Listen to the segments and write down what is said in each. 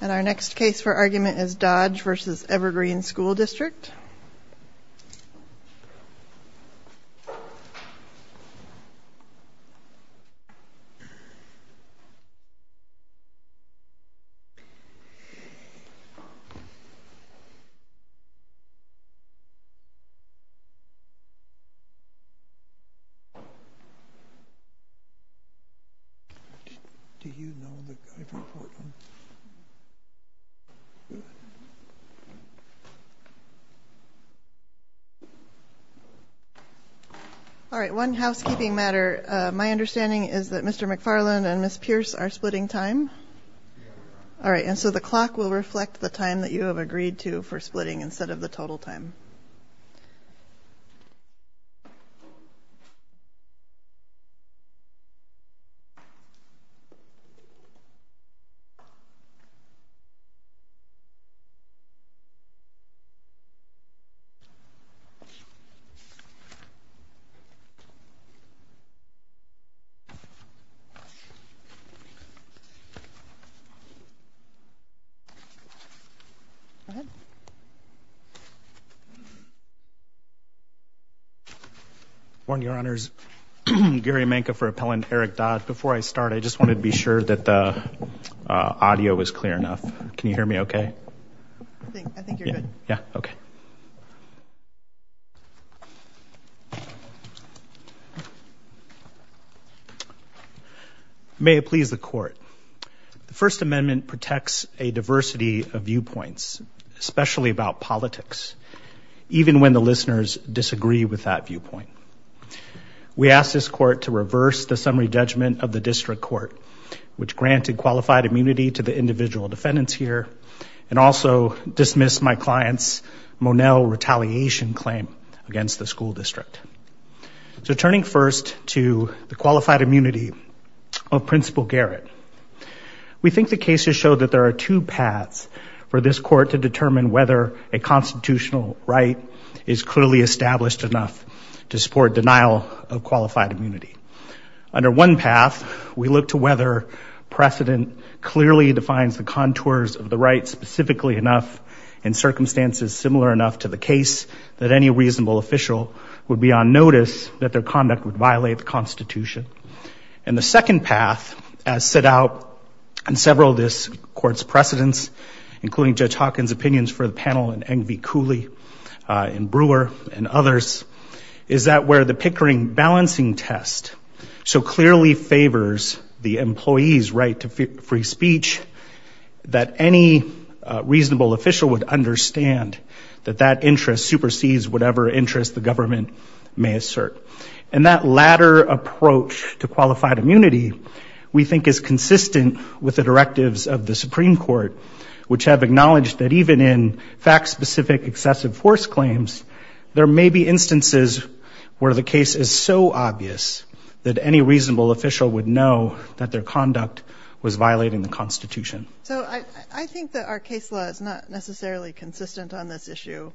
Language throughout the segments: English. And our next case for argument is Dodge v. Evergreen School District Do you know the guy from Portland? All right, one housekeeping matter. My understanding is that Mr. McFarland and Ms. Pierce are splitting time? Yes All right, and so the clock will reflect the time that you have agreed to for splitting All right, thank you. Go ahead. I warn your honors, Gary Menke for appellant Eric Dodd. Before I start I just wanted to be sure that the audio was clear enough. Can you hear me okay? I think you're good. Yeah, okay. May it please the court. The First Amendment protects a diversity of viewpoints, especially about politics, even when the listeners disagree with that viewpoint. We ask this court to reverse the summary judgment of the district court, which granted qualified immunity to the individual defendants here, and also dismiss my client's Monel retaliation claim against the school district. So turning first to the qualified immunity of Principal Garrett, we think the cases show that there are two paths for this court to determine whether a constitutional right is clearly established enough to support denial of qualified immunity. Under one path, we believe the court clearly defines the contours of the right specifically enough and circumstances similar enough to the case that any reasonable official would be on notice that their conduct would violate the Constitution. And the second path, as set out in several of this court's precedents, including Judge Hawkins' opinions for the panel in Eng v. Cooley, in Brewer and others, is that where the Pickering balancing test so clearly favors the employee's right to free speech, that any reasonable official would understand that that interest supersedes whatever interest the government may assert. And that latter approach to qualified immunity, we think, is consistent with the directives of the Supreme Court, which have acknowledged that even in fact-specific excessive force claims, there may be instances where the case is so obvious that any reasonable official would know that their conduct was violating the Constitution. So I think that our case law is not necessarily consistent on this issue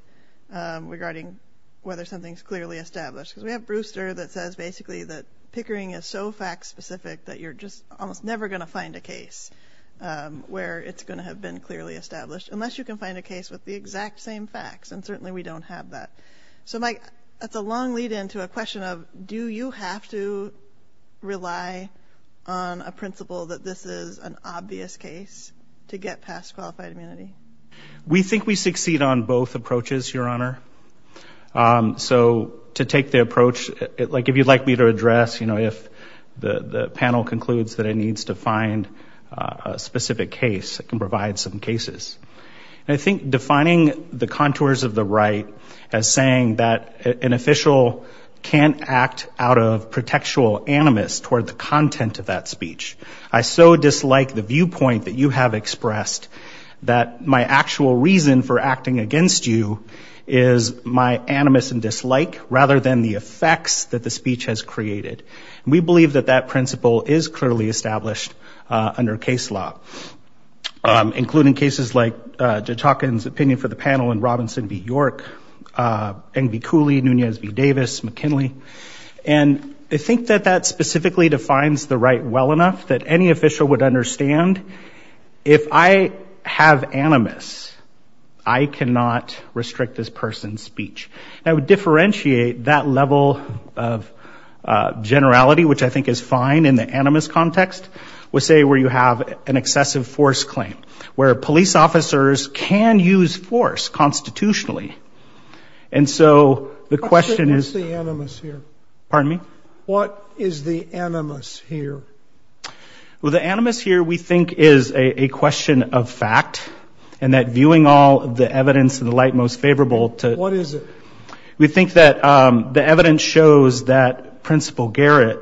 regarding whether something is clearly established. Because we have Brewster that says basically that Pickering is so fact-specific that you're just almost never going to find a case where it's going to have been clearly established, unless you can find a case with the exact same facts. And certainly we don't have that. So Mike, that's a long lead-in to a question of, do you have to rely on a principle that this is an obvious case to get past qualified immunity? We think we succeed on both approaches, Your Honor. So to take the approach, like if you'd like me to address, you know, if the panel concludes that it needs to find a specific case, it can provide some cases. And I think defining the contours of the right as saying that an official can't act out of protectual animus toward the content of that speech. I so dislike the viewpoint that you have expressed that my actual reason for acting against you is my animus and dislike, rather than the effects that the speech has created. We believe that that principle is clearly established under case law, including cases like Judge Hawkins' opinion for the panel in Robinson v. York, Eng v. Cooley, Nunez v. Davis, McKinley. And I think that that specifically defines the right well enough that any official would understand, if I have animus, I cannot restrict this person's speech. I would differentiate that level of generality, which I think is fine in the animus context, with say where you have an excessive force claim, where police officers can use force constitutionally. And so the question is... What is the animus here? What is the animus here? Well, the animus here we think is a question of fact, and that viewing all the evidence in the light most favorable to... What is it? We think that the evidence shows that Principal Garrett,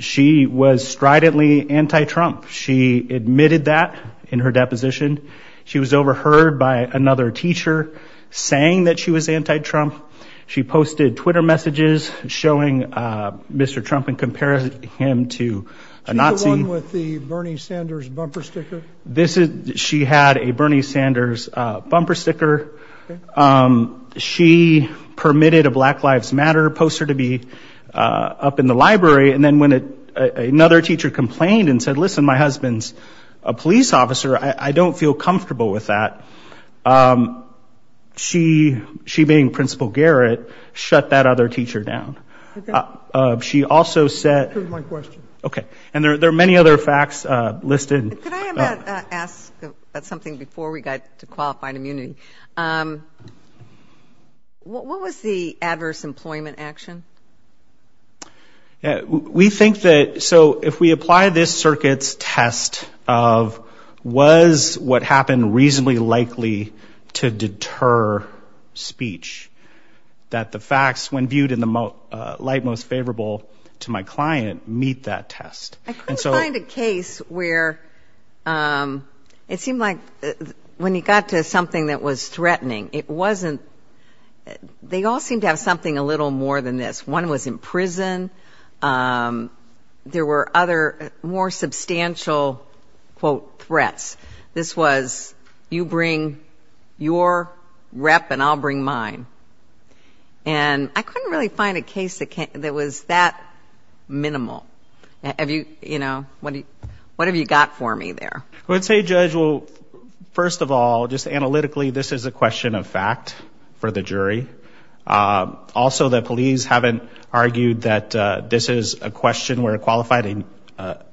she was stridently anti-Trump. She admitted that in her deposition. She was overheard by another teacher saying that she was anti-Trump. She posted Twitter messages showing Mr. Trump and compared him to a Nazi. She's the one with the Bernie Sanders bumper sticker? This is... She had a Bernie Sanders bumper sticker. She permitted a Black Lives Matter poster to be up in the library. And then when another teacher complained and said, listen, my husband's a police officer, I don't feel comfortable with that. She, being Principal Garrett, shut that other teacher down. She also said... Here's my question. Okay. And there are many other facts listed. Could I ask something before we get to qualified immunity? What was the adverse employment action? We think that... So if we apply this circuit's test of was what happened reasonably likely to deter speech, that the facts, when viewed in the light most favorable to my client, meet that test. I couldn't find a case where... It seemed like when you got to something that was threatening, it wasn't... They all seemed to have something a little more than this. One was in prison. There were other more substantial, quote, threats. This was, you bring your rep and I'll bring mine. And I couldn't really find a case that was that minimal. What have you got for me there? I would say, Judge, well, first of all, just analytically, this is a question of fact for the jury. Also, the police haven't argued that this is a question where qualified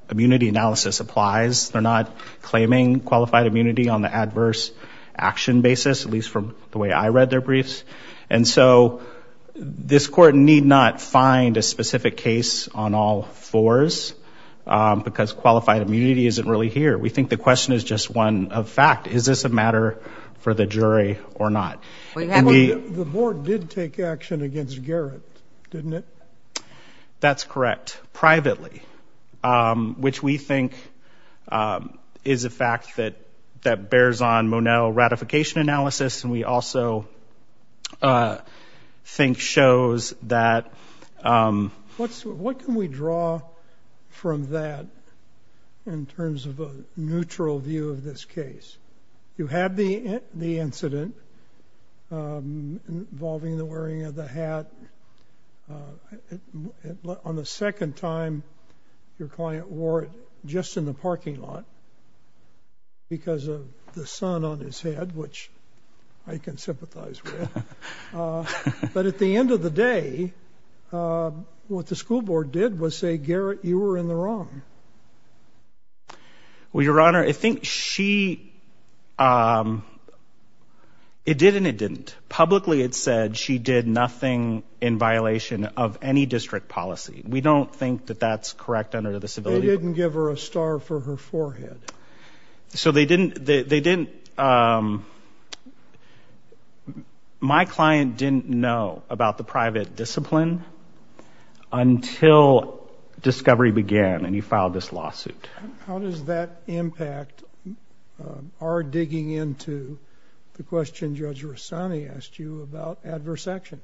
immunity analysis applies. They're not claiming qualified immunity on the adverse action basis, at least from the way I read their briefs. And so this court need not find a specific case on all fours because qualified immunity isn't really here. We think the question is just one of fact. Is this a matter for the jury or not? The board did take action against Garrett, didn't it? That's correct. Privately, which we think is a fact that bears on Monell ratification analysis. And we also think shows that. What can we draw from that in terms of a neutral view of this case? You had the incident involving the wearing of the hat. On the second time, your client wore it just in the parking lot because of the sun on his head, which I can sympathize with. But at the end of the day, what the school board did was say, Garrett, you were in the wrong. Well, Your Honor, I think she it did and it didn't. Publicly, it said she did nothing in violation of any district policy. We don't think that that's correct under the civility didn't give her a star for her forehead. So they didn't. They didn't. My client didn't know about the private discipline until discovery began and he filed this lawsuit. How does that impact our digging into the question? Judge Rossani asked you about adverse action.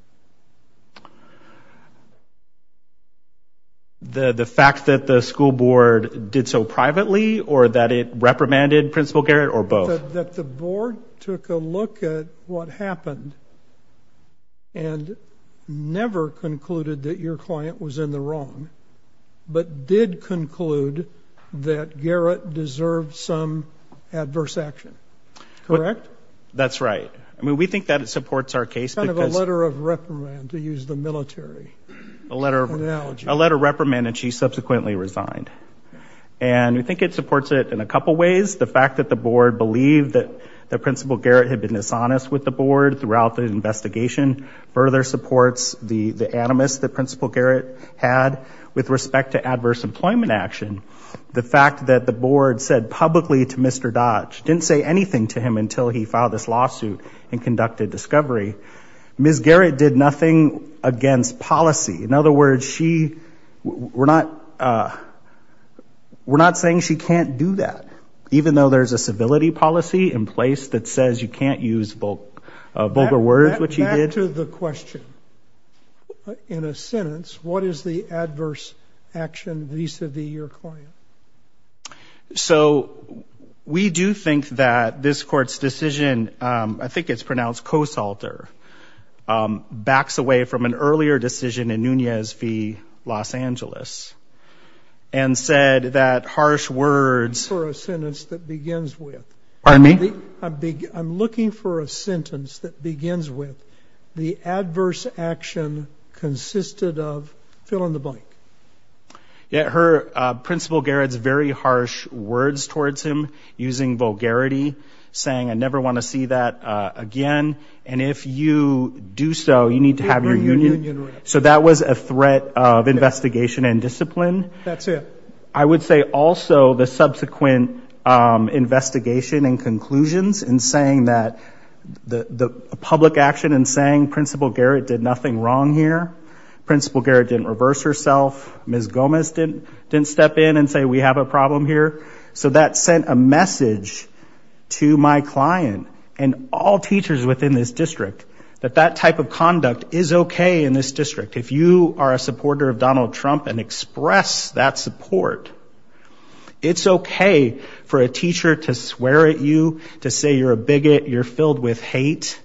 The fact that the school board did so privately or that it reprimanded Principal Garrett or both that the board took a look at what happened. And never concluded that your client was in the wrong, but did conclude that Garrett deserved some adverse action. Correct? That's right. I mean, we think that it supports our case because of a letter of reprimand to use the military, a letter, a letter reprimand, and she subsequently resigned. And we think it supports it in a couple of ways. The fact that the board believed that the Principal Garrett had been dishonest with the board throughout the investigation further supports the animus that Principal Garrett had with respect to adverse employment action. The fact that the board said publicly to Mr. Dodge, didn't say anything to him until he filed this lawsuit and conducted discovery. Ms. Garrett did nothing against policy. In other words, she, we're not, we're not saying she can't do that, even though there's a civility policy in place that says you can't use vulgar words, which she did. Answer the question. In a sentence, what is the adverse action vis-a-vis your client? So we do think that this court's decision, I think it's pronounced co-salter, backs away from an earlier decision in Nunez v. Los Angeles, and said that harsh words for a sentence that begins with the adverse action consisted of fill in the blank. Yeah. Her Principal Garrett's very harsh words towards him using vulgarity, saying, I never want to see that again. And if you do so, you need to have your union. So that was a threat of investigation and discipline. That's it. I would say also the subsequent investigation and conclusions and saying that the public action and saying Principal Garrett did nothing wrong here. Principal Garrett didn't reverse herself. Ms. Gomez didn't step in and say we have a problem here. So that sent a message to my client and all teachers within this district that that type of conduct is okay in this district. If you are a supporter of Donald Trump and express that support, it's okay for a teacher to swear at you to say you're a bigot, you're filled with hate,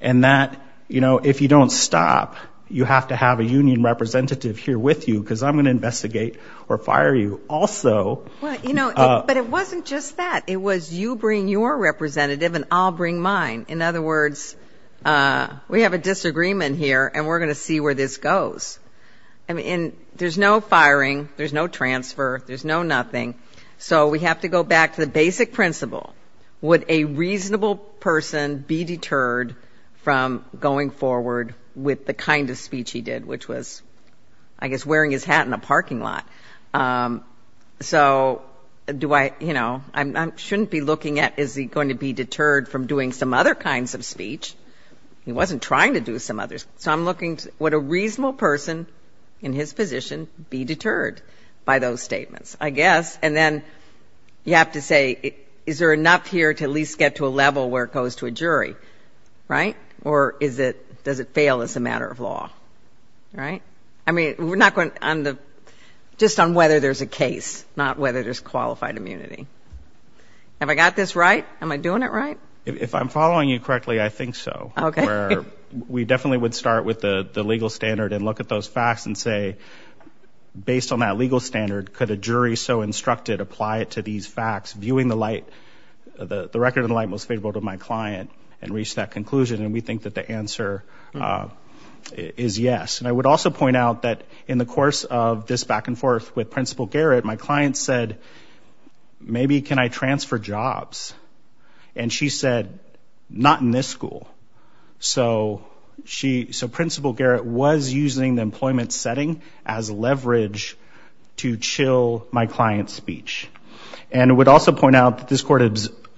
and that if you don't stop, you have to have a union representative here with you because I'm going to investigate or fire you also. But it wasn't just that. It was you bring your representative and I'll bring mine. In other words, we have a disagreement here and we're going to see where this goes. I mean, there's no firing, there's no transfer, there's no nothing. So we have to go back to the basic principle. Would a reasonable person be deterred from going forward with the kind of speech he did, which was, I guess, wearing his hat in a parking lot? So do I, you know, I shouldn't be looking at is he going to be deterred from doing some other kinds of speech. He wasn't trying to do some others. So I'm looking, would a reasonable person in his position be deterred by those here to at least get to a level where it goes to a jury? Right? Or is it, does it fail as a matter of law? Right? I mean, we're not going on the, just on whether there's a case, not whether there's qualified immunity. Have I got this right? Am I doing it right? If I'm following you correctly, I think so. Okay. We definitely would start with the legal standard and look at those facts and say, based on that legal standard, could a jury so instructed apply it to these facts, viewing the light, the record of the light most favorable to my client and reach that conclusion? And we think that the answer is yes. And I would also point out that in the course of this back and forth with Principal Garrett, my client said, maybe can I transfer jobs? And she said, not in this school. So she, so Principal Garrett was using the employment setting as leverage to chill my client's speech. And would also point out that this court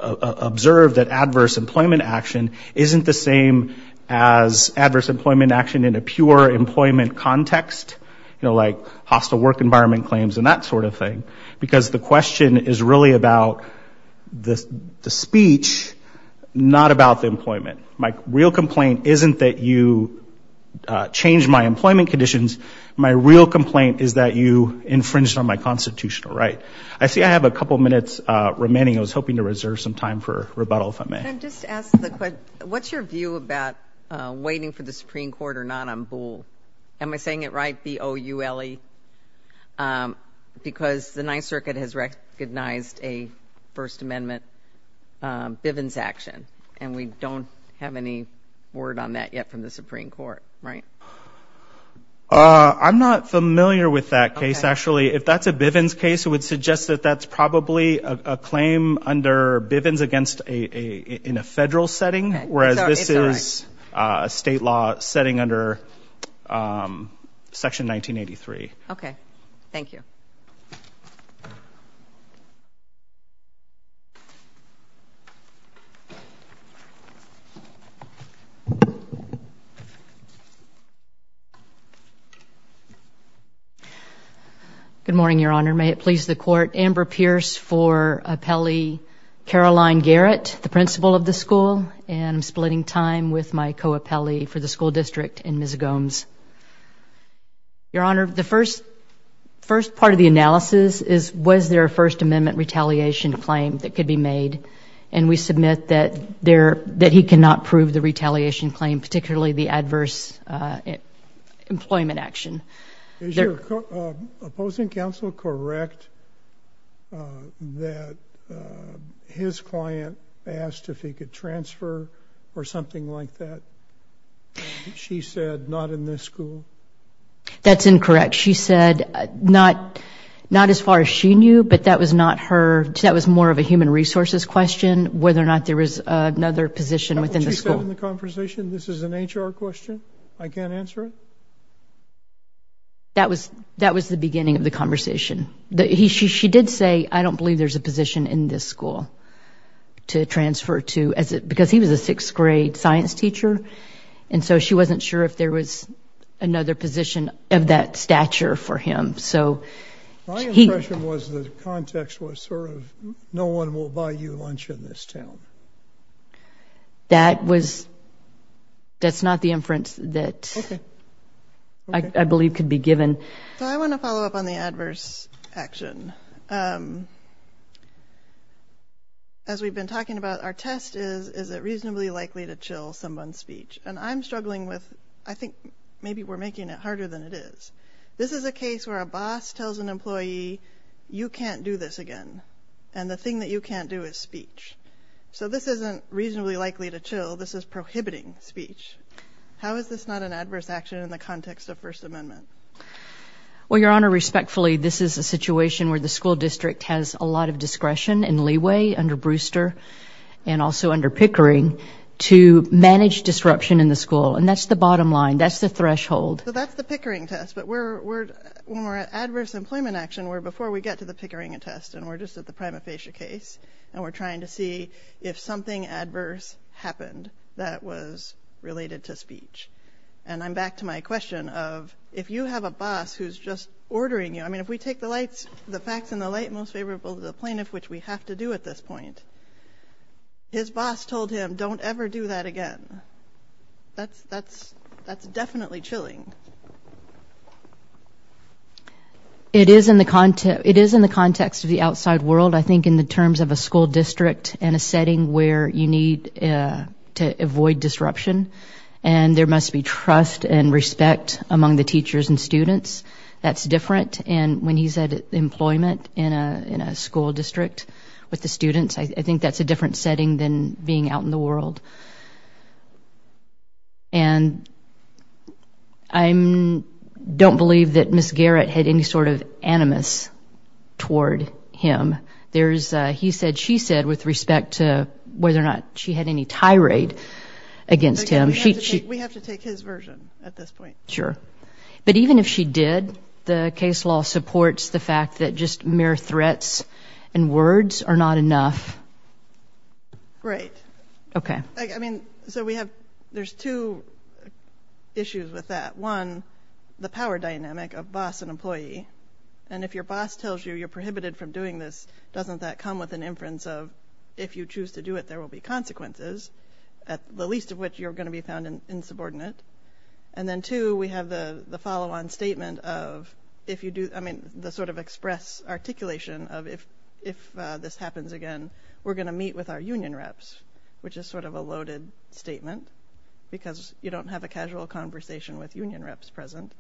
observed that adverse employment action isn't the same as adverse employment action in a pure employment context, you know, like hostile work environment claims and that sort of thing. Because the question is really about the speech, not about the employment. My real complaint isn't that you changed my employment conditions. My real complaint is that you infringed on my constitutional right. I see I have a couple minutes remaining. I was hoping to reserve some time for rebuttal, if I may. Can I just ask the question, what's your view about waiting for the Supreme Court or not on Boole? Am I saying it right, B-O-U-L-E? Because the Ninth Circuit has recognized a First Amendment Bivens action, and we don't have any word on that yet from the Supreme Court, right? I'm not familiar with that case, actually. If that's a Bivens case, it would suggest that that's probably a claim under Bivens against a, in a federal setting, whereas this is a state law setting under Section 1983. Okay, thank you. Good morning, Your Honor. May it please the Court, Amber Pierce for Appellee Caroline Garrett, the principal of the school, and I'm splitting time with my co-appellee for the school district, and Ms. Gomes. Your Honor, the first, first part of the analysis is was there a First Amendment retaliation claim that could be made, and we submit that there, that he cannot prove the retaliation claim, particularly the adverse employment action. Is your opposing counsel correct that his client asked if he could transfer or something like that? She said not in this school? That's incorrect. She said not, not as far as she knew, but that was not her, that was more of a human resources question, whether or not there was another position within the school. This is an HR question. I can't answer it? That was, that was the beginning of the conversation. She did say, I don't believe there's a position in this school to transfer to, as it, because he was a sixth grade science teacher, and so she wasn't sure if there was another position of that stature for him, so he... My impression was the context was sort of, no one will buy you lunch in this town. That was, that's not the inference that I believe could be true. So, how is this not an adverse action? As we've been talking about, our test is, is it reasonably likely to chill someone's speech? And I'm struggling with, I think maybe we're making it harder than it is. This is a case where a boss tells an employee, you can't do this again, and the thing that you can't do is speech. So this isn't reasonably likely to chill, this is prohibiting speech. How is this not an adverse action in the context of First Amendment? Well, Your Honor, respectfully, this is a situation where the school district has a lot of discretion and leeway under Brewster and also under Pickering to manage disruption in the school, and that's the bottom line, that's the threshold. So that's the Pickering test, but we're, we're, when we're at adverse employment action, we're before we get to the Pickering test, and we're just at the prima facie case, and we're trying to see if something adverse happened that was just, you know, you have a boss who's just ordering you. I mean, if we take the lights, the facts and the light most favorable to the plaintiff, which we have to do at this point, his boss told him, don't ever do that again. That's, that's, that's definitely chilling. It is in the context, it is in the context of the outside world, I think, in the terms of a school district and a setting where you need to avoid disruption, and there must be trust and respect among the teachers and students. That's different, and when he said employment in a, in a school district with the students, I think that's a different setting than being out in the world. And I'm, don't believe that Ms. Garrett had any sort of animus toward him. There's, he said, with respect to whether or not she had any tirade against him. We have to take his version at this point. Sure. But even if she did, the case law supports the fact that just mere threats and words are not enough. Right. Okay. I mean, so we have, there's two issues with that. One, the power dynamic of boss and employee, and if your boss tells you you're prohibited from doing this, doesn't that come with an inference of, if you choose to do it, there will be consequences, at the least of which you're going to be found insubordinate. And then two, we have the follow-on statement of, if you do, I mean, the sort of express articulation of, if this happens again, we're going to meet with our union reps, which is sort of a loaded statement, because you don't have a casual conversation with union reps present.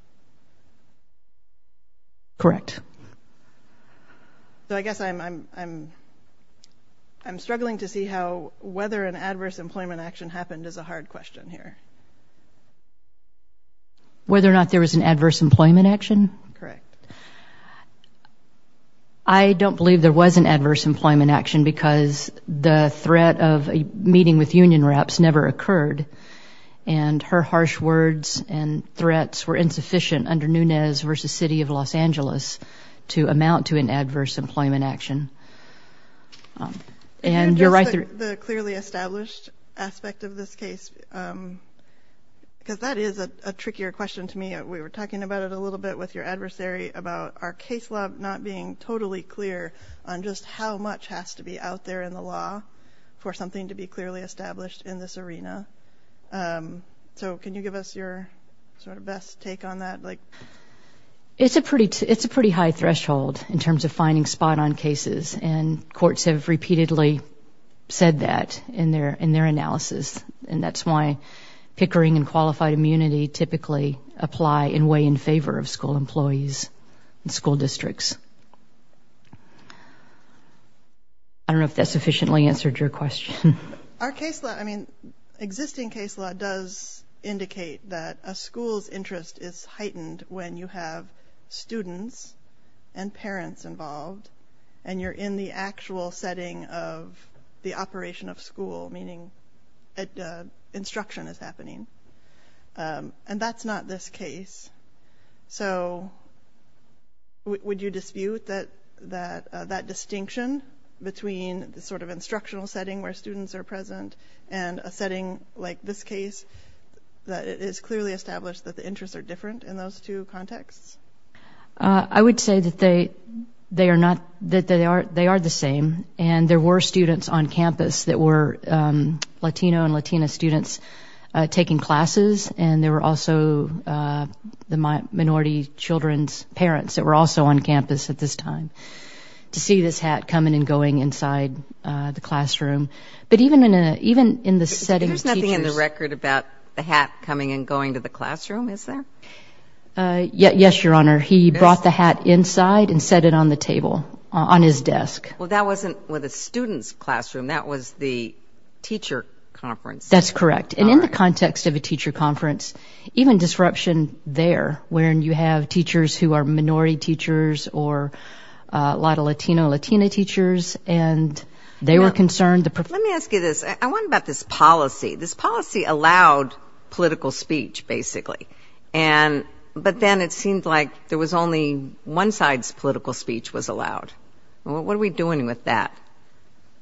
Correct. So I guess I'm, I'm, I'm, I'm struggling to see how, whether an adverse employment action happened is a hard question here. Whether or not there was an adverse employment action? Correct. I don't believe there was an adverse employment action because the threat of a meeting with union reps never occurred. And her harsh words and threats were insufficient under Nunez versus City of Los Angeles to amount to an adverse employment action. And you're right. The clearly established aspect of this case, because that is a trickier question to me. We were talking about it a little bit with your adversary about our case law not being totally clear on just how much has to be out there in the law for something to be clearly established in this arena. So can you give us your sort of best take on that? It's a pretty, it's a pretty high threshold in terms of finding spot on cases. And courts have repeatedly said that in their, in their analysis. And that's why pickering and qualified immunity typically apply in way in favor of school employees and school districts. I don't know if that sufficiently answered your question. Our case law, I mean, existing case law does indicate that a school's interest is heightened when you have students and parents involved and you're in the actual setting of the operation of school, meaning instruction is happening. And that's not this case. So would you dispute that, that, that distinction between the sort of instructional setting where students are present and a setting like this case that is clearly established that the interests are different in those two contexts? I would say that they, they are not, that they are, they are the same. And there were students on campus that were Latino and Latina students taking classes. And there were also the minority children's parents that were also on campus at this time to see this hat coming and going inside the classroom. But even in a, even in the setting... There's nothing in the record about the hat coming and going to the classroom, is there? Yes, Your Honor. He brought the hat inside and set it on the table on his desk. Well, that wasn't with a student's classroom. That was the teacher conference. That's correct. And in the context of a teacher conference, even disruption there, wherein you have teachers who are minority teachers or a lot of Latino, Latina teachers, and they were concerned... Let me ask you this. I wonder about this policy. This policy allowed political speech, basically. And, but then it seemed like there was only one side's political speech was allowed. What are we doing with that?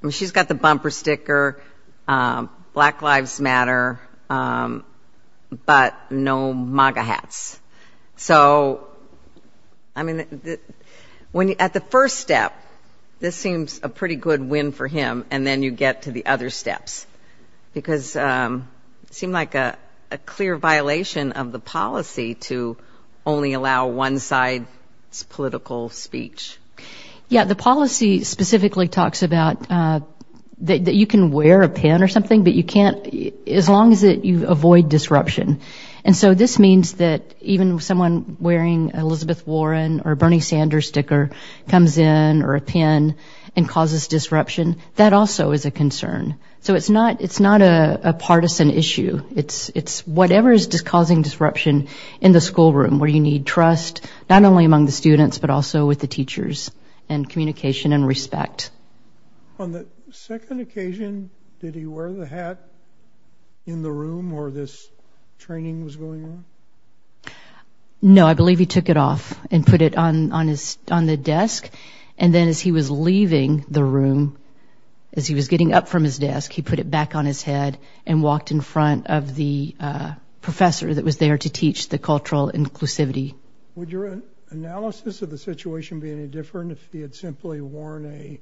I mean, she's got the bumper sticker, Black Lives Matter, but no MAGA hats. So, I mean, at the first step, this seems a pretty good win for him. And then you get to the other steps. Because it seemed like a clear violation of the policy to only allow one side's political speech. Yeah, the policy specifically talks about that you can wear a pin or something, but you can't... As long as you avoid disruption. And so this means that even someone wearing Elizabeth Warren or Bernie Sanders sticker comes in or a pin and causes disruption, that also is a concern. So it's not a partisan issue. It's whatever is causing disruption in the schoolroom where you need trust, not only among the students, but also with the teachers and communication and respect. On the second occasion, did he wear the hat in the room where this training was going on? No, I believe he took it off and put it on the desk. And then as he was leaving the room, as he was getting up from his desk, he put it back on his head and walked in front of the professor that was there to teach the cultural inclusivity. Would your analysis of the situation be any different if he had simply worn a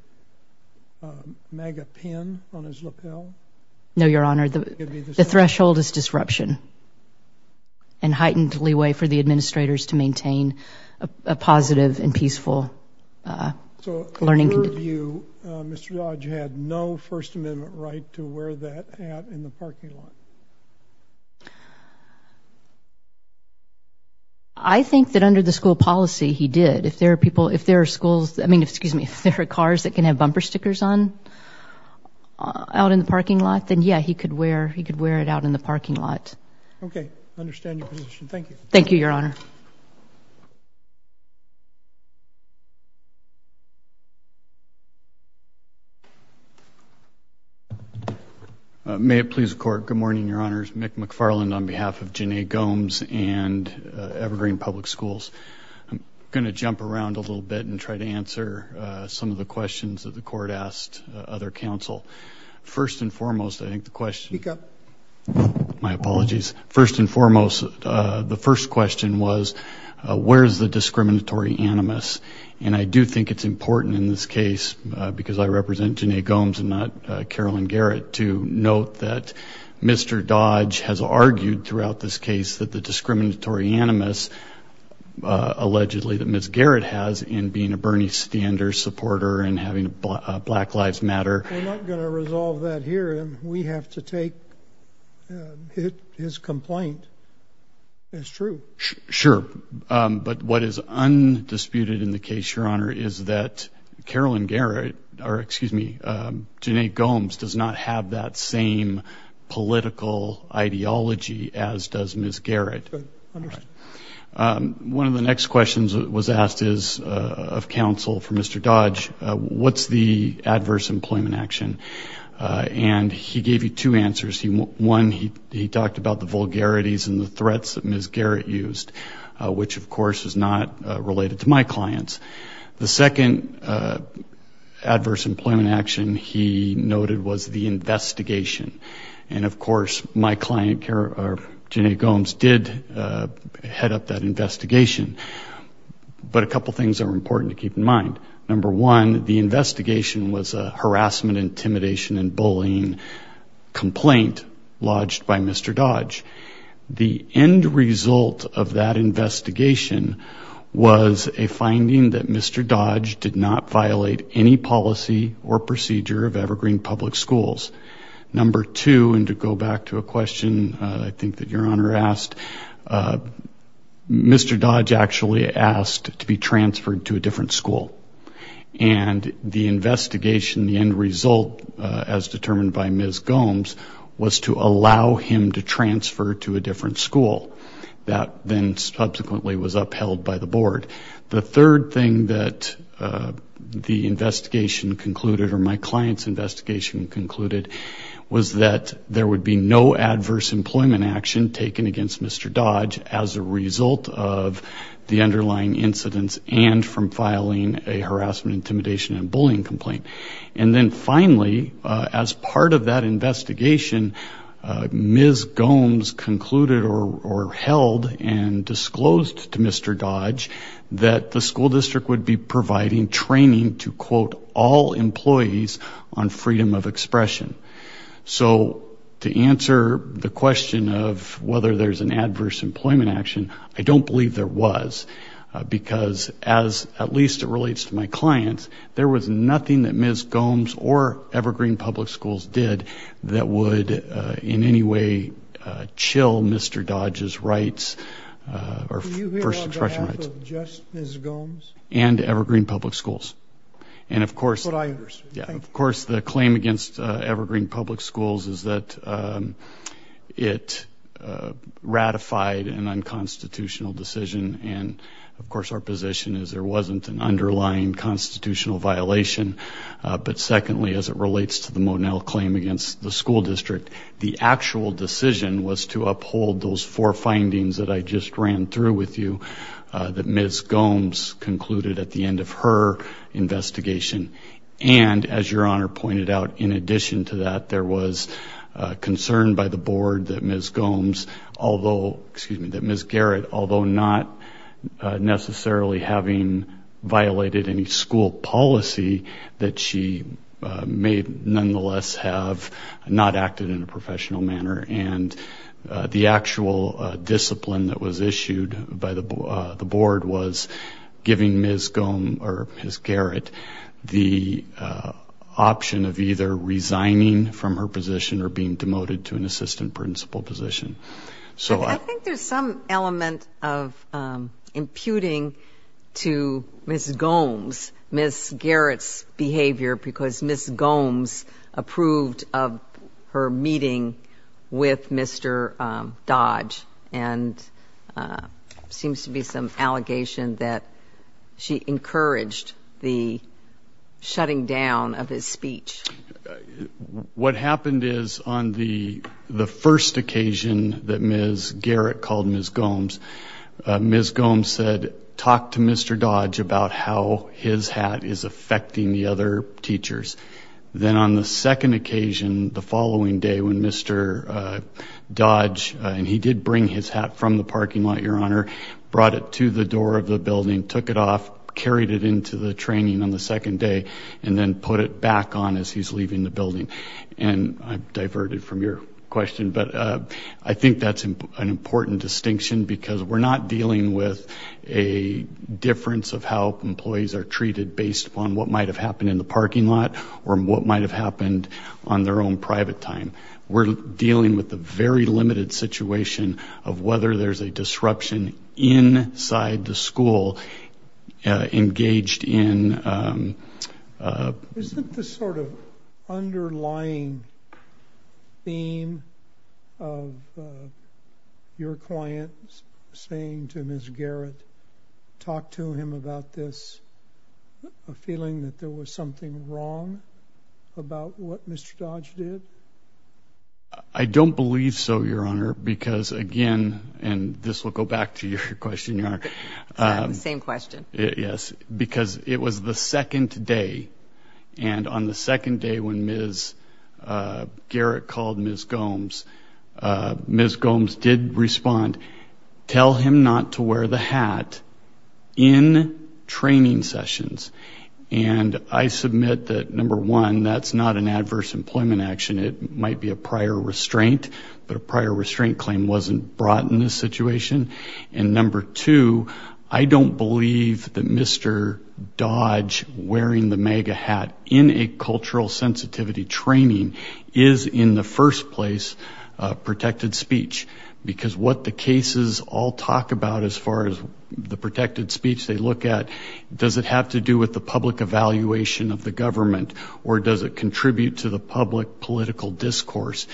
MAGA pin on his lapel? No, Your Honor, the threshold is disruption and heightened leeway for the administrators to maintain a positive and peaceful learning... So in your view, Mr. Dodge had no First Amendment right to wear that hat in the parking lot? I think that under the school policy, he did. If there are people, if there are schools, I mean, excuse me, if there are cars that can have bumper stickers on out in the parking lot, then yeah, he could wear it out in the parking lot. Okay, I understand your position. Thank you. Thank you, Your Honor. May it please the Court. Good morning, Your Honors. Mick McFarland on behalf of Janae Gomes and Evergreen Public Schools. I'm going to jump around a little bit and try to answer some of the questions that the Court asked other counsel. First and foremost, I think the question... Speak up. My apologies. First and foremost, the first question was, where's the discriminatory animus? And I do think it's important in this case, because I represent Janae Gomes and not Carolyn Garrett, to note that Mr. Dodge has argued throughout this case that the discriminatory animus allegedly that Ms. Garrett has in being a Bernie Sanders supporter and having a Black Lives Matter... We're not going to resolve that here, and we have to take his complaint as true. Sure. But what is undisputed in the case, Your Honor, is that Carolyn Garrett, or excuse me, Janae Gomes does not have that same political ideology as does Ms. Garrett. Good. Understood. One of the next questions that was he gave you two answers. One, he talked about the vulgarities and the threats that Ms. Garrett used, which of course is not related to my clients. The second adverse employment action he noted was the investigation. And of course, my client, Janae Gomes, did head up that investigation. But a couple of things are important to keep in mind. Number one, the investigation was a complaint lodged by Mr. Dodge. The end result of that investigation was a finding that Mr. Dodge did not violate any policy or procedure of Evergreen Public Schools. Number two, and to go back to a question I think that Your Honor asked, Mr. Dodge actually asked to be transferred to a different school by Ms. Gomes was to allow him to transfer to a different school. That then subsequently was upheld by the board. The third thing that the investigation concluded or my client's investigation concluded was that there would be no adverse employment action taken against Mr. Dodge as a result of the underlying incidents and from filing a harassment, intimidation, and bullying complaint. And then finally, as part of that investigation, Ms. Gomes concluded or held and disclosed to Mr. Dodge that the school district would be providing training to, quote, all employees on freedom of expression. So to answer the question of whether there's an adverse employment action, I don't believe there was because as at least it there was nothing that Ms. Gomes or Evergreen Public Schools did that would in any way chill Mr. Dodge's rights or first expression rights. And Evergreen Public Schools. And of course, of course, the claim against Evergreen Public Schools is that it ratified an unconstitutional decision. And of course, our position is there wasn't an underlying constitutional violation. But secondly, as it relates to the Monell claim against the school district, the actual decision was to uphold those four findings that I just ran through with you that Ms. Gomes concluded at the end of her investigation. And as your honor pointed out, in addition to that, there was concern by the board that Ms. Gomes, although excuse me, Ms. Garrett, although not necessarily having violated any school policy that she may nonetheless have not acted in a professional manner and the actual discipline that was issued by the board was giving Ms. Gomes or Ms. Garrett the option of either resigning from her position or being demoted to an assistant principal position. So I think there's some element of imputing to Ms. Gomes, Ms. Garrett's behavior because Ms. Gomes approved of her meeting with Mr. Dodge and seems to be some allegation that she encouraged the shutting down of his speech. What happened is on the first occasion that Ms. Garrett called Ms. Gomes, Ms. Gomes said, talk to Mr. Dodge about how his hat is affecting the other teachers. Then on the second occasion, the following day when Mr. Dodge, and he did bring his hat from the parking lot, your honor, brought it to the door of the building, took it off, carried it into the training on the leaving the building. And I've diverted from your question, but I think that's an important distinction because we're not dealing with a difference of how employees are treated based upon what might've happened in the parking lot or what might've happened on their own private time. We're dealing with a very limited situation of whether there's a disruption inside the school engaged in... Isn't this sort of underlying theme of your client saying to Ms. Garrett, talk to him about this, a feeling that there was something wrong about what Mr. Dodge did? I don't believe so, your honor, because again, and this will go back to your question, your honor. Same question. Yes, because it was the second day and on the second day when Ms. Garrett called Ms. Gomes, Ms. Gomes did respond, tell him not to wear the hat in training sessions. And I submit that number one, that's not an adverse employment action. It might be a prior restraint, but a prior restraint claim wasn't brought in this situation. And number two, I don't believe that Mr. Dodge wearing the MAGA hat in a cultural sensitivity training is in the first place a protected speech because what the cases all talk about as far as the protected speech they look at, does it have to do with the public evaluation of the government or does it contribute to the public political discourse?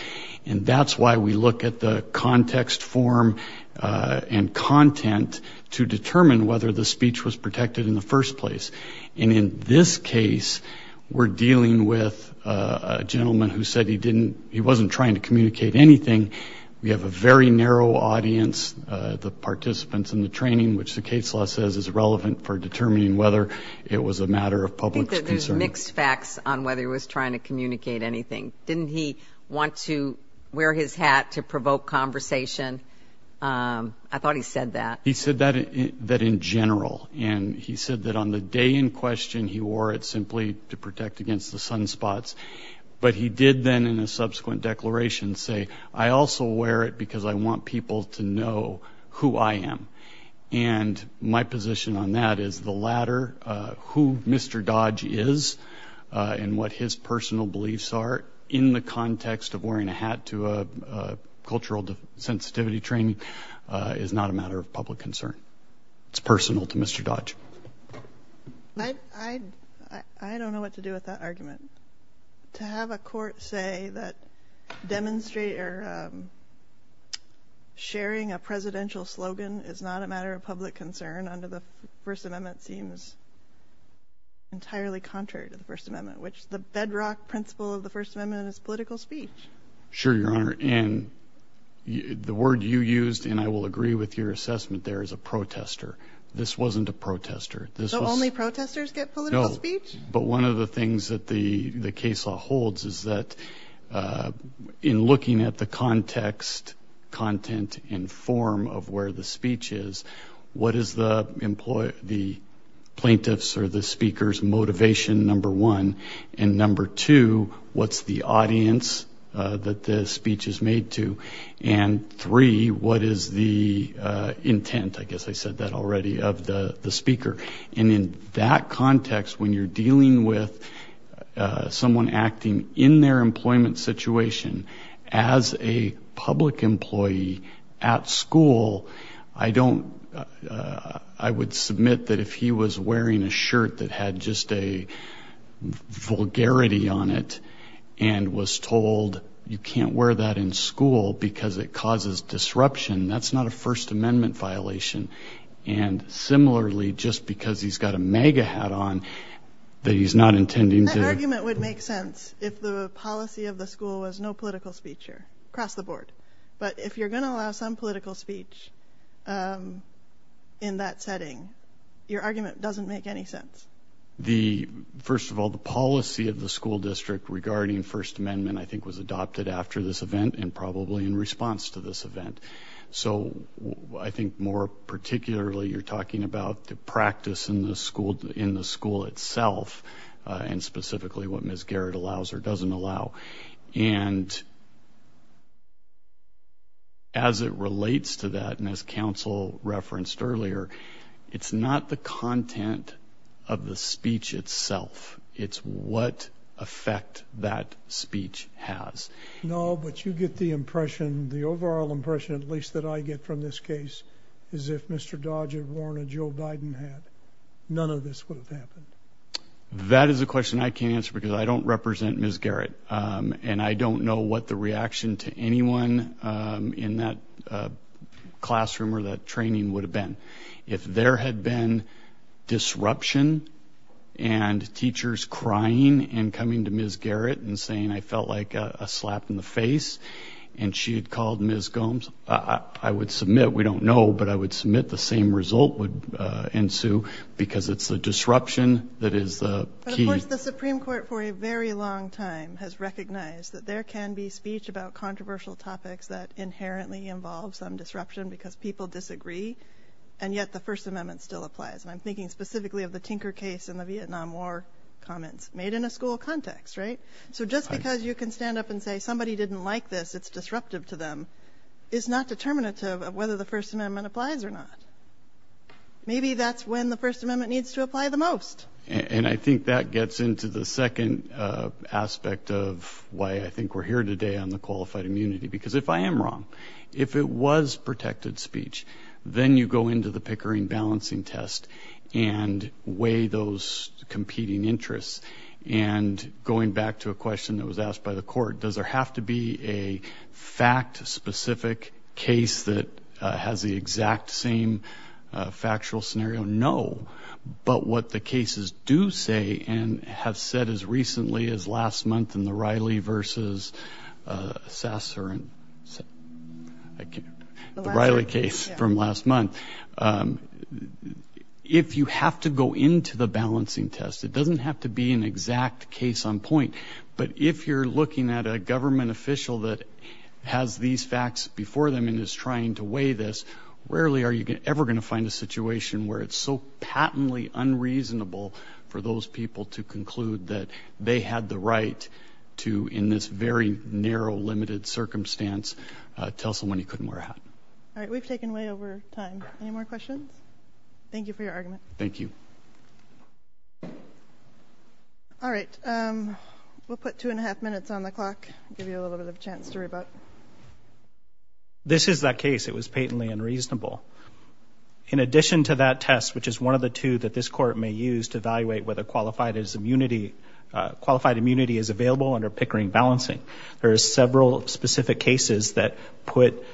And that's why we look at the context form and content to determine whether the speech was protected in the first place. And in this case, we're dealing with a gentleman who said he didn't, he wasn't trying to communicate anything. We have a very narrow audience, the participants in the training, which the case law says is relevant for determining whether it was a matter of public concern. Mixed facts on whether he was trying to communicate anything. Didn't he want to wear his hat to provoke conversation? I thought he said that. He said that in general. And he said that on the day in question, he wore it simply to protect against the sunspots. But he did then in a subsequent declaration say, I also wear it because I want people to know who I am. And my position on that is the latter, who Mr. Dodge is and what his personal beliefs are in the context of wearing a hat to a cultural sensitivity training is not a matter of public concern. It's personal to Mr. Dodge. I don't know what to do with that argument. To have a court say that demonstrate or sharing a presidential slogan is not a matter of public concern under the First Amendment seems entirely contrary to the First Amendment, which the bedrock principle of the First Amendment is political speech. Sure, Your Honor. And the word you used, and I will agree with your assessment there, is a protester. This wasn't a protester. So only protesters get political speech? No. But one of the things that the case law holds is that in looking at the context, content, and form of where the speech is, what is the plaintiff's or the speaker's motivation, number one? And number two, what's the audience that the speech is made to? And three, what is the intent, I guess I said that already, of the speaker? And in that context, when you're dealing with someone acting in their employment situation as a public employee at school, I would submit that if he was wearing a shirt that had just a vulgarity on it and was told you can't wear that in school because it causes disruption, that's not a First Amendment violation. And similarly, just because he's got a MAGA hat on, that he's not intending to... That argument would make sense if the policy of the school was no political speech across the board. But if you're going to allow some political speech in that setting, your argument doesn't make any sense. First of all, the policy of the school district regarding First Amendment, I think, was adopted after this event and probably in response to this event. So I think more particularly, you're talking about the practice in the school itself and specifically what Ms. Garrett allows or doesn't allow. And as it relates to that, and as counsel referenced earlier, it's not the content of the speech itself, it's what effect that speech has. No, but you get the impression, the overall impression at least that I get from this case is if Mr. Dodge had worn a Joe Biden hat, none of this would have happened. That is a question I can't answer because I don't represent Ms. Garrett and I don't know what the reaction to anyone in that classroom or that training would have been. If there had been disruption and teachers crying and coming to Ms. Garrett and she had called Ms. Gomes, I would submit, we don't know, but I would submit the same result would ensue because it's the disruption that is the key. But of course the Supreme Court for a very long time has recognized that there can be speech about controversial topics that inherently involve some disruption because people disagree and yet the First Amendment still applies. And I'm thinking specifically of the Tinker case and the Vietnam War comments made in a school context, right? So just because you can stand up and say somebody didn't like this, it's disruptive to them, is not determinative of whether the First Amendment applies or not. Maybe that's when the First Amendment needs to apply the most. And I think that gets into the second aspect of why I think we're here today on the qualified immunity. Because if I am wrong, if it was protected speech, then you go into the Pickering balancing test and weigh those by the court. Does there have to be a fact-specific case that has the exact same factual scenario? No. But what the cases do say and have said as recently as last month in the Riley versus Sasser, the Riley case from last month, if you have to go into the balancing test, it doesn't have to be an exact case on point. But if you're looking at a government official that has these facts before them and is trying to weigh this, rarely are you ever going to find a situation where it's so patently unreasonable for those people to conclude that they had the right to, in this very narrow, limited circumstance, tell someone he couldn't wear a hat. All right. We've taken way over time. Any more questions? Thank you for your argument. Thank you. All right. We'll put two and a half minutes on the clock, give you a little bit of a chance to rebut. This is that case. It was patently unreasonable. In addition to that test, which is one of the two that this court may use to evaluate whether qualified immunity is available under Pickering balancing, there are several specific cases that put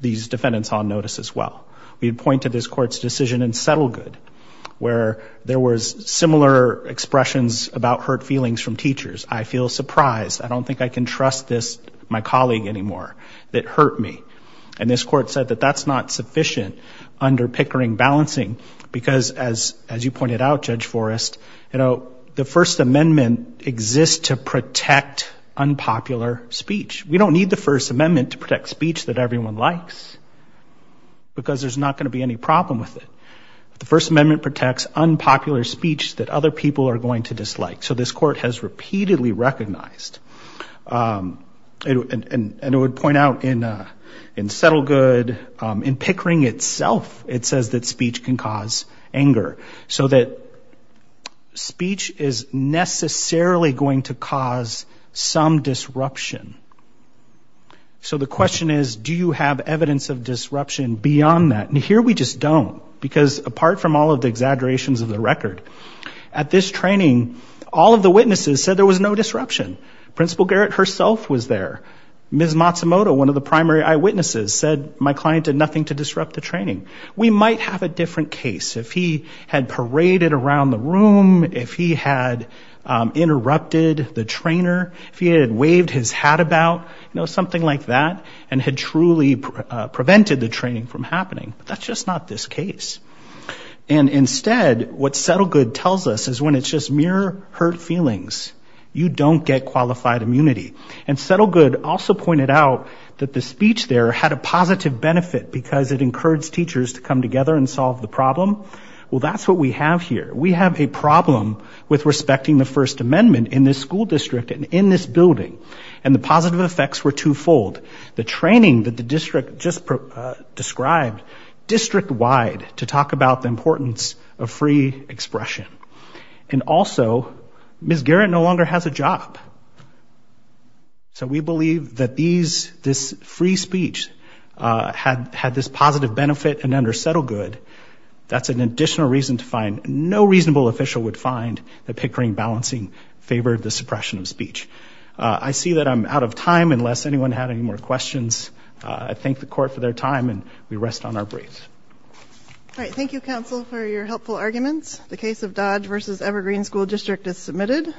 these defendants on notice as well. We'd point to this court's decision in Settlegood where there was similar expressions about hurt feelings from teachers. I feel surprised. I don't think I can trust this, my colleague anymore, that hurt me. And this court said that that's not sufficient under Pickering balancing because as you pointed out, Judge Forrest, the First Amendment exists to protect unpopular speech. We don't need the First Amendment to protect speech that everyone likes because there's not going to be any problem with it. The First Amendment protects unpopular speech that other people are going to dislike. So this court has repeatedly recognized. And it would point out in Settlegood, in Pickering itself, it says that speech can cause anger. So that speech is necessarily going to cause some disruption. So the question is, do you have evidence of disruption beyond that? And here we just don't because apart from all of the exaggerations of the record, at this training, all of the witnesses said there was no disruption. Principal Garrett herself was there. Ms. Matsumoto, one of the might have a different case. If he had paraded around the room, if he had interrupted the trainer, if he had waved his hat about, something like that, and had truly prevented the training from happening. That's just not this case. And instead, what Settlegood tells us is when it's just mere hurt feelings, you don't get qualified immunity. And Settlegood also pointed out that the speech there had a positive benefit because it encouraged teachers to come together and solve the problem. Well, that's what we have here. We have a problem with respecting the First Amendment in this school district and in this building. And the positive effects were twofold. The training that the district just described district wide to talk about the importance of free expression. And also, Ms. Garrett no longer has a job. So we believe that this free speech had this positive benefit and under Settlegood, that's an additional reason to find no reasonable official would find that Pickering balancing favored the suppression of speech. I see that I'm out of time unless anyone had any more questions. I thank the court for their time and we rest on our breath. All right. Thank you, counsel, for your helpful arguments. The case of Dodge versus Evergreen School District is submitted.